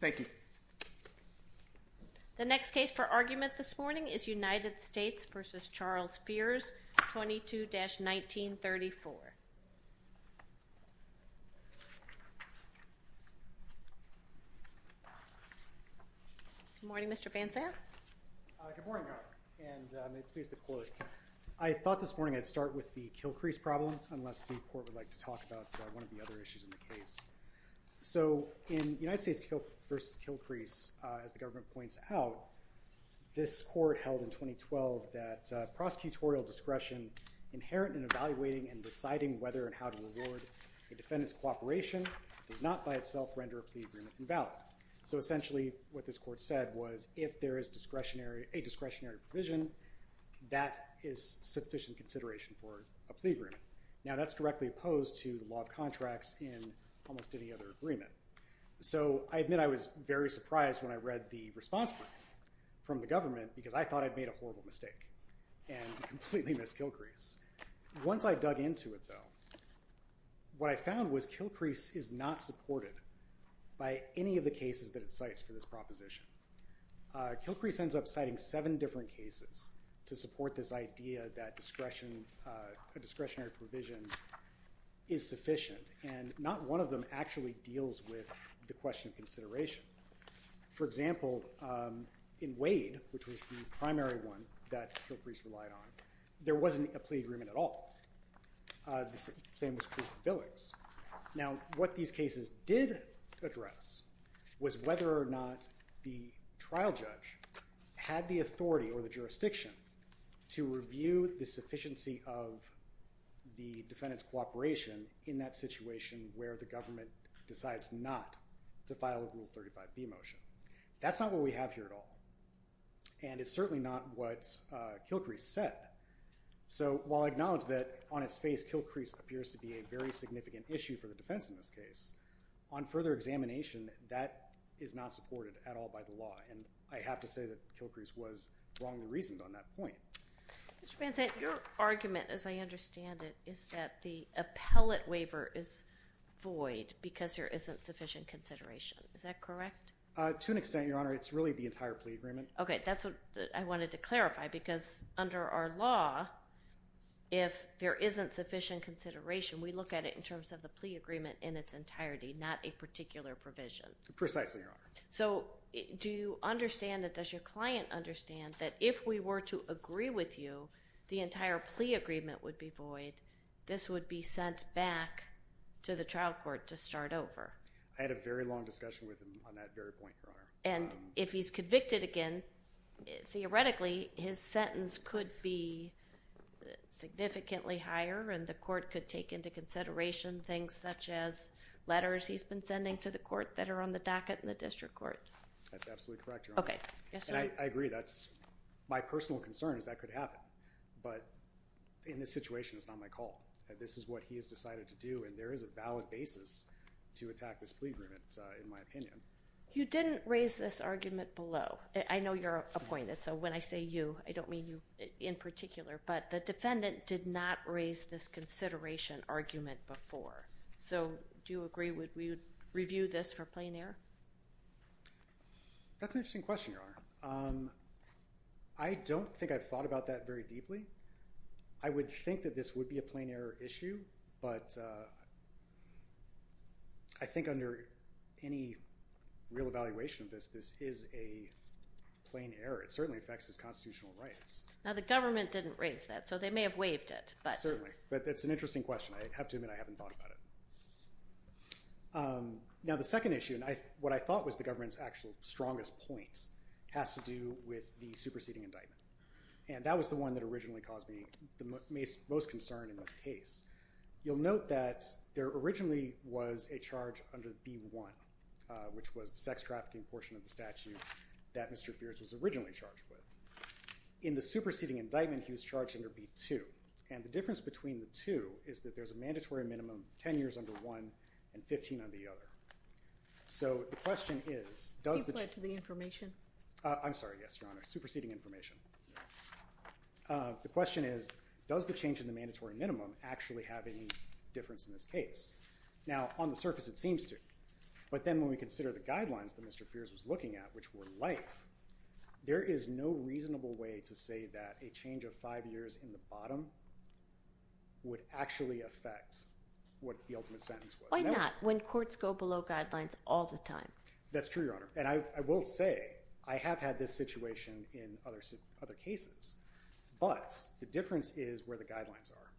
Thank you. The next case for argument this morning is United States v. Charles Fears, 22-1934. Good morning, Mr. Van Zandt. Good morning, and may it please the Court. I thought this morning I'd start with the Kilcrease problem, unless the Court would like to talk about one of the other issues in the case. So in United States v. Kilcrease, as the government points out, this Court held in 2012 that prosecutorial discretion inherent in evaluating and deciding whether and how to reward a defendant's cooperation does not by itself render a plea agreement invalid. So essentially what this Court said was if there is a discretionary provision, that is sufficient consideration for a plea agreement. Now that's directly opposed to the law of contracts in almost any other agreement. So I admit I was very surprised when I read the response from the government because I thought I'd made a horrible mistake and completely missed Kilcrease. Once I dug into it, though, what I found was Kilcrease is not supported by any of the cases that it cites for this proposition. Kilcrease ends up citing seven different cases to support this idea that a discretionary provision is sufficient, and not one of them actually deals with the question of consideration. For example, in Wade, which was the primary one that Kilcrease relied on, there wasn't a plea agreement at all. The same was true for Billings. Now what these cases did address was whether or not the trial judge had the authority or the jurisdiction to review the sufficiency of the defendant's cooperation in that situation where the government decides not to file a Rule 35b motion. That's not what we have here at all, and it's certainly not what Kilcrease said. So while I acknowledge that on its face Kilcrease appears to be a very significant issue for the defense in this case, on further examination, that is not supported at all by the law. And I have to say that Kilcrease was wrongly reasoned on that point. Your argument, as I understand it, is that the appellate waiver is void because there isn't sufficient consideration. Is that correct? To an extent, Your Honor. It's really the entire plea agreement. Okay, that's what I wanted to clarify because under our law, if there isn't sufficient consideration, we look at it in terms of the plea agreement in its entirety, not a particular provision. Precisely, Your Honor. So do you understand or does your client understand that if we were to agree with you, the entire plea agreement would be void, this would be sent back to the trial court to start over? I had a very long discussion with him on that very point, Your Honor. And if he's convicted again, theoretically, his sentence could be significantly higher and the court could take into consideration things such as letters he's been sending to the court that are on the docket in the district court. That's absolutely correct, Your Honor. Okay. I agree. My personal concern is that could happen. But in this situation, it's not my call. This is what he has decided to do and there is a valid basis to attack this plea agreement, in my opinion. You didn't raise this argument below. I know you're appointed, so when I say you, I don't mean you in particular. But the defendant did not raise this consideration argument before. So do you agree we would review this for plain error? That's an interesting question, Your Honor. I don't think I've thought about that very deeply. I would think that this would be a plain error issue, but I think under any real evaluation of this, this is a plain error. It certainly affects his constitutional rights. Now, the government didn't raise that, so they may have waived it. Certainly. But that's an interesting question. I have to admit I haven't thought about it. Now, the second issue, and what I thought was the government's actual strongest point, has to do with the superseding indictment. And that was the one that originally caused me the most concern in this case. You'll note that there originally was a charge under B-1, which was the sex trafficking portion of the statute that Mr. Pierce was originally charged with. In the superseding indictment, he was charged under B-2. And the difference between the two is that there's a mandatory minimum 10 years under one and 15 under the other. So the question is, does the- You've led to the information? I'm sorry, yes, Your Honor. Superseding information. The question is, does the change in the mandatory minimum actually have any difference in this case? Now, on the surface, it seems to. But then when we consider the guidelines that Mr. Pierce was looking at, which were life, there is no reasonable way to say that a change of five years in the bottom would actually affect what the ultimate sentence was. Why not? When courts go below guidelines all the time. That's true, Your Honor. And I will say, I have had this situation in other cases. But the difference is where the guidelines are.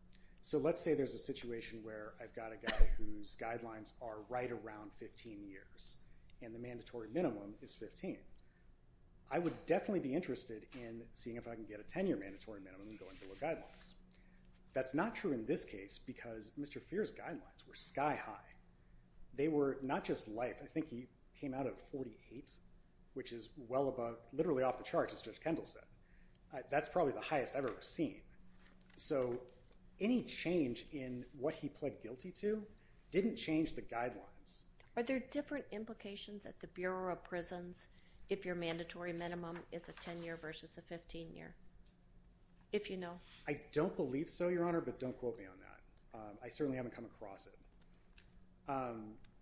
So let's say there's a situation where I've got a guy whose guidelines are right around 15 years. And the mandatory minimum is 15. I would definitely be interested in seeing if I can get a 10-year mandatory minimum going below guidelines. That's not true in this case because Mr. Pierce's guidelines were sky high. They were not just life. I think he came out of 48, which is well above, literally off the charts, as Judge Kendall said. That's probably the highest I've ever seen. So any change in what he pled guilty to didn't change the guidelines. Are there different implications at the Bureau of Prisons if your mandatory minimum is a 10-year versus a 15-year, if you know? I don't believe so, Your Honor, but don't quote me on that. I certainly haven't come across it.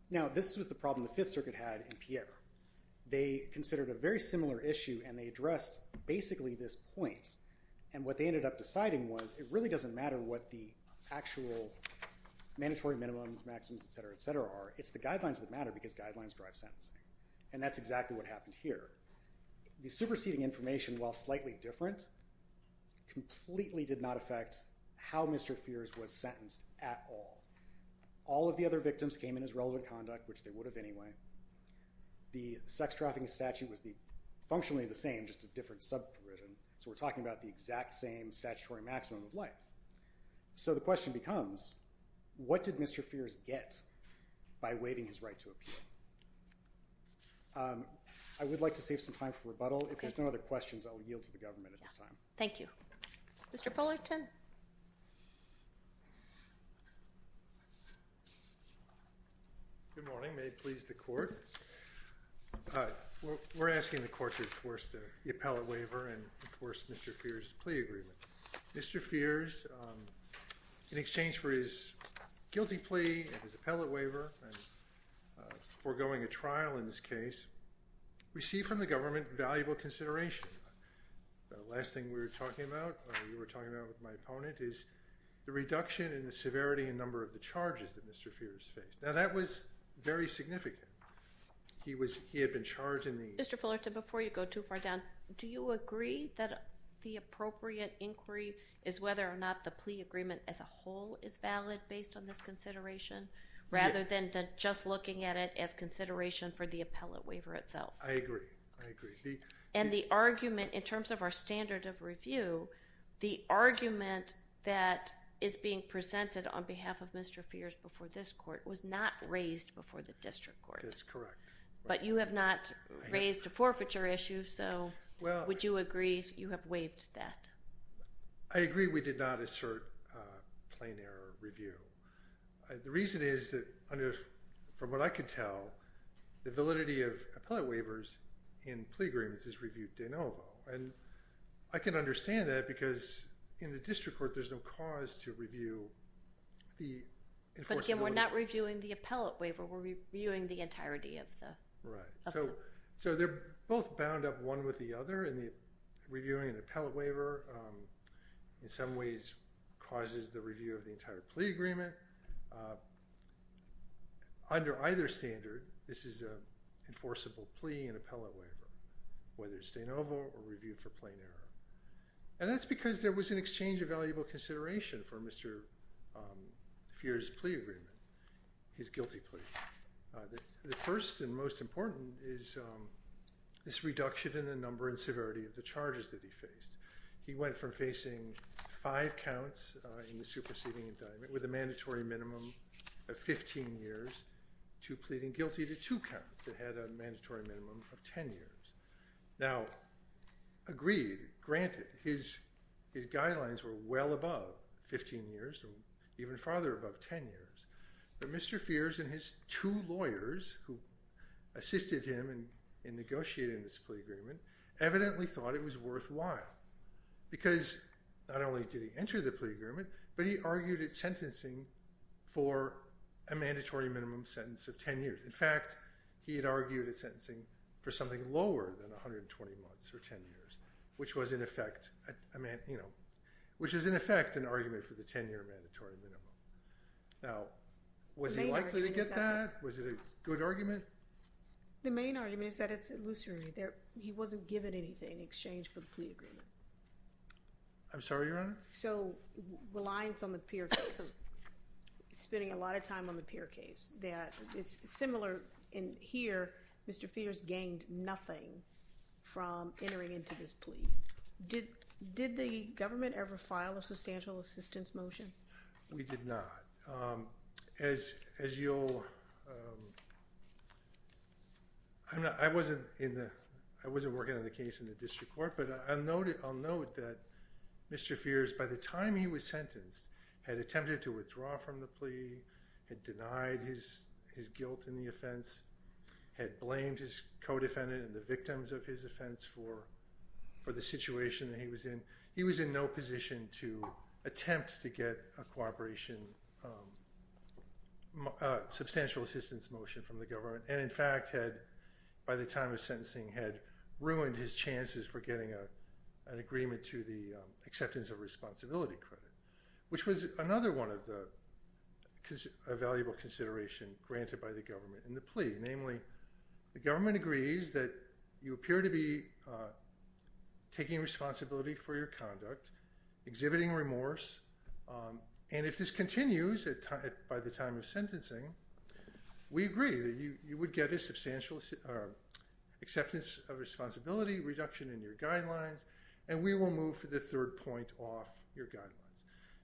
Now, this was the problem the Fifth Circuit had in Pierre. They considered a very similar issue, and they addressed basically this point. And what they ended up deciding was it really doesn't matter what the actual mandatory minimums, maxims, et cetera, et cetera are. It's the guidelines that matter because guidelines drive sentencing. And that's exactly what happened here. The superseding information, while slightly different, completely did not affect how Mr. Pierce was sentenced at all. All of the other victims came in as relevant conduct, which they would have anyway. The sex trafficking statute was functionally the same, just a different subprision. So we're talking about the exact same statutory maximum of life. So the question becomes, what did Mr. Pierce get by waiving his right to appeal? I would like to save some time for rebuttal. If there's no other questions, I will yield to the government at this time. Thank you. Mr. Pullerton. Good morning. May it please the Court. We're asking the Court to enforce the appellate waiver and enforce Mr. Pierce's plea agreement. Mr. Pierce, in exchange for his guilty plea and his appellate waiver and forgoing a trial in this case, received from the government valuable consideration. The last thing we were talking about, you were talking about with my opponent, is the reduction in the severity and number of the charges that Mr. Pierce faced. Now, that was very significant. He had been charged in the— Mr. Pullerton, before you go too far down, do you agree that the appropriate inquiry is whether or not the plea agreement as a whole is valid based on this consideration, rather than just looking at it as consideration for the appellate waiver itself? I agree. I agree. And the argument, in terms of our standard of review, the argument that is being presented on behalf of Mr. Pierce before this Court was not raised before the district court. That's correct. But you have not raised a forfeiture issue, so would you agree you have waived that? I agree we did not assert plain error review. The reason is that, from what I can tell, the validity of appellate waivers in plea agreements is reviewed de novo. And I can understand that because in the district court, there's no cause to review the enforceability— But again, we're not reviewing the appellate waiver. We're reviewing the entirety of the— Right. So they're both bound up one with the other, and reviewing an appellate waiver in some ways causes the review of the entire plea agreement. Under either standard, this is an enforceable plea and appellate waiver, whether it's de novo or reviewed for plain error. And that's because there was an exchange of valuable consideration for Mr. Pierce's plea agreement, his guilty plea. The first and most important is this reduction in the number and severity of the charges that he faced. He went from facing five counts in the superseding indictment, with a mandatory minimum of 15 years, to pleading guilty to two counts that had a mandatory minimum of 10 years. Now, agreed, granted, his guidelines were well above 15 years, or even farther above 10 years. But Mr. Pierce and his two lawyers, who assisted him in negotiating this plea agreement, evidently thought it was worthwhile. Because not only did he enter the plea agreement, but he argued it sentencing for a mandatory minimum sentence of 10 years. In fact, he had argued it sentencing for something lower than 120 months or 10 years, which was in effect an argument for the 10-year mandatory minimum. Now, was he likely to get that? Was it a good argument? The main argument is that it's illusory. He wasn't given anything in exchange for the plea agreement. I'm sorry, Your Honor? So, reliance on the peer case. Spending a lot of time on the peer case. It's similar in here, Mr. Pierce gained nothing from entering into this plea. Did the government ever file a substantial assistance motion? We did not. I wasn't working on the case in the district court, but I'll note that Mr. Pierce, by the time he was sentenced, had attempted to withdraw from the plea, had denied his guilt in the offense, had blamed his co-defendant and the victims of his offense for the situation that he was in. He had attempted to get a substantial assistance motion from the government, and in fact, by the time of sentencing, had ruined his chances for getting an agreement to the acceptance of responsibility credit, which was another one of the valuable considerations granted by the government in the plea. Namely, the government agrees that you appear to be taking responsibility for your conduct, exhibiting remorse, and if this continues by the time of sentencing, we agree that you would get a substantial acceptance of responsibility, reduction in your guidelines, and we will move for the third point off your guidelines.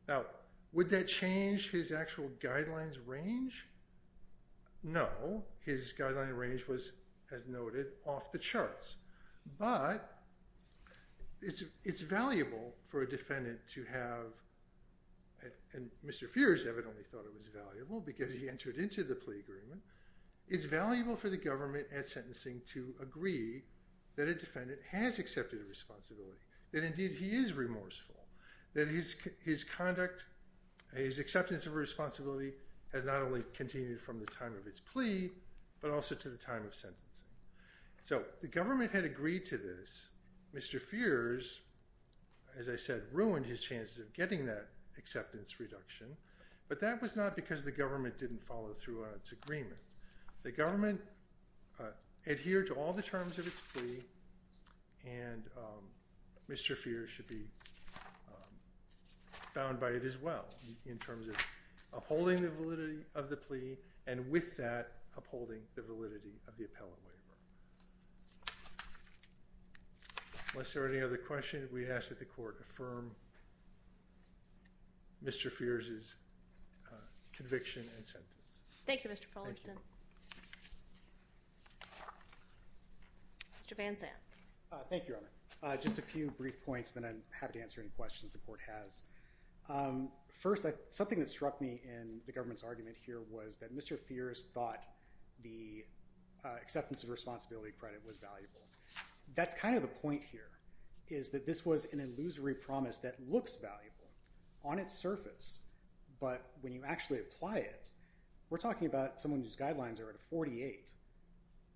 Now, would that change his actual guidelines range? No. His guidelines range was, as noted, off the charts. But it's valuable for a defendant to have, and Mr. Pierce evidently thought it was valuable because he entered into the plea agreement, it's valuable for the government at sentencing to agree that a defendant has accepted responsibility, that indeed he is remorseful, that his conduct, his acceptance of responsibility has not only continued from the time of his plea, but also to the time of sentencing. So the government had agreed to this. Mr. Pierce, as I said, ruined his chances of getting that acceptance reduction, but that was not because the government didn't follow through on its agreement. The government adhered to all the terms of its plea, and Mr. Pierce should be bound by it as well, in terms of upholding the validity of the plea, and with that, upholding the validity of the appellate waiver. Unless there are any other questions, we ask that the court affirm Mr. Pierce's conviction and sentence. Thank you, Mr. Fullerton. Mr. Van Zandt. Thank you, Emma. Just a few brief points, then I'm happy to answer any questions the court has. First, something that struck me in the government's argument here was that Mr. Pierce thought the acceptance of responsibility credit was valuable. That's kind of the point here, is that this was an illusory promise that looks valuable on its surface, but when you actually apply it, we're talking about someone whose guidelines are at a 48.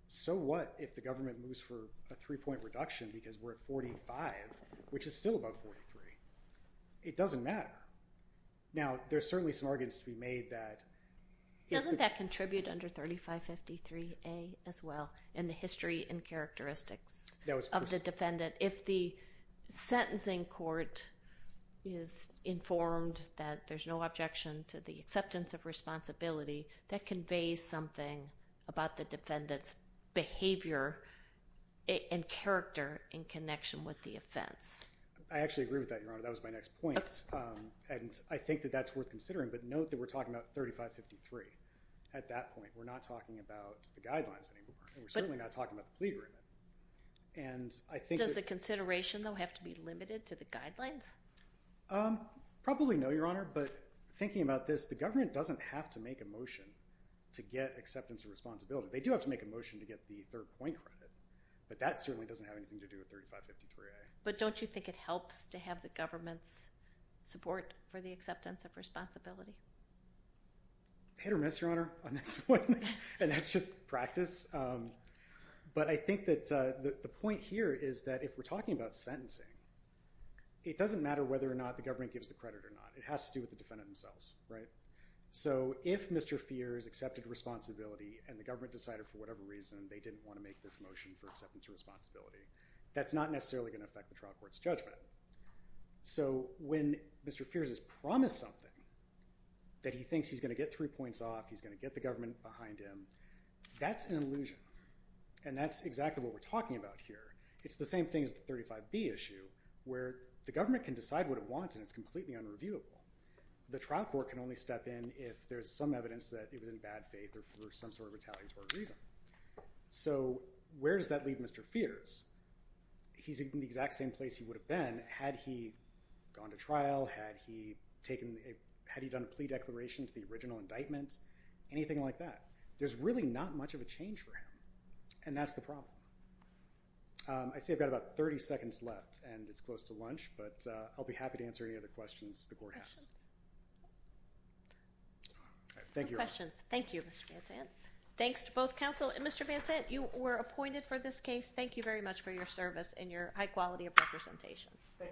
So what if the government moves for a three-point reduction because we're at 45, which is still about 43? It doesn't matter. Now, there's certainly some arguments to be made that if the… Doesn't that contribute under 3553A as well, in the history and characteristics of the defendant? That if the sentencing court is informed that there's no objection to the acceptance of responsibility, that conveys something about the defendant's behavior and character in connection with the offense. I actually agree with that, Your Honor. That was my next point, and I think that that's worth considering. But note that we're talking about 3553. At that point, we're not talking about the guidelines anymore, and we're certainly not talking about the plea agreement. Does the consideration, though, have to be limited to the guidelines? Probably no, Your Honor. But thinking about this, the government doesn't have to make a motion to get acceptance of responsibility. They do have to make a motion to get the third-point credit, but that certainly doesn't have anything to do with 3553A. But don't you think it helps to have the government's support for the acceptance of responsibility? Hit or miss, Your Honor, on this one, and that's just practice. But I think that the point here is that if we're talking about sentencing, it doesn't matter whether or not the government gives the credit or not. It has to do with the defendant themselves, right? So if Mr. Fears accepted responsibility and the government decided for whatever reason they didn't want to make this motion for acceptance of responsibility, that's not necessarily going to affect the trial court's judgment. So when Mr. Fears has promised something, that he thinks he's going to get three points off, he's going to get the government behind him, that's an illusion. And that's exactly what we're talking about here. It's the same thing as the 35B issue where the government can decide what it wants and it's completely unreviewable. The trial court can only step in if there's some evidence that it was in bad faith or for some sort of retaliatory reason. So where does that leave Mr. Fears? He's in the exact same place he would have been had he gone to trial, had he done a plea declaration to the original indictment, anything like that. There's really not much of a change for him, and that's the problem. I see I've got about 30 seconds left and it's close to lunch, but I'll be happy to answer any other questions the court has. Thank you. No questions. Thank you, Mr. Van Sant. Thanks to both counsel and Mr. Van Sant. You were appointed for this case. Thank you very much for your service and your high quality of representation. Thank you.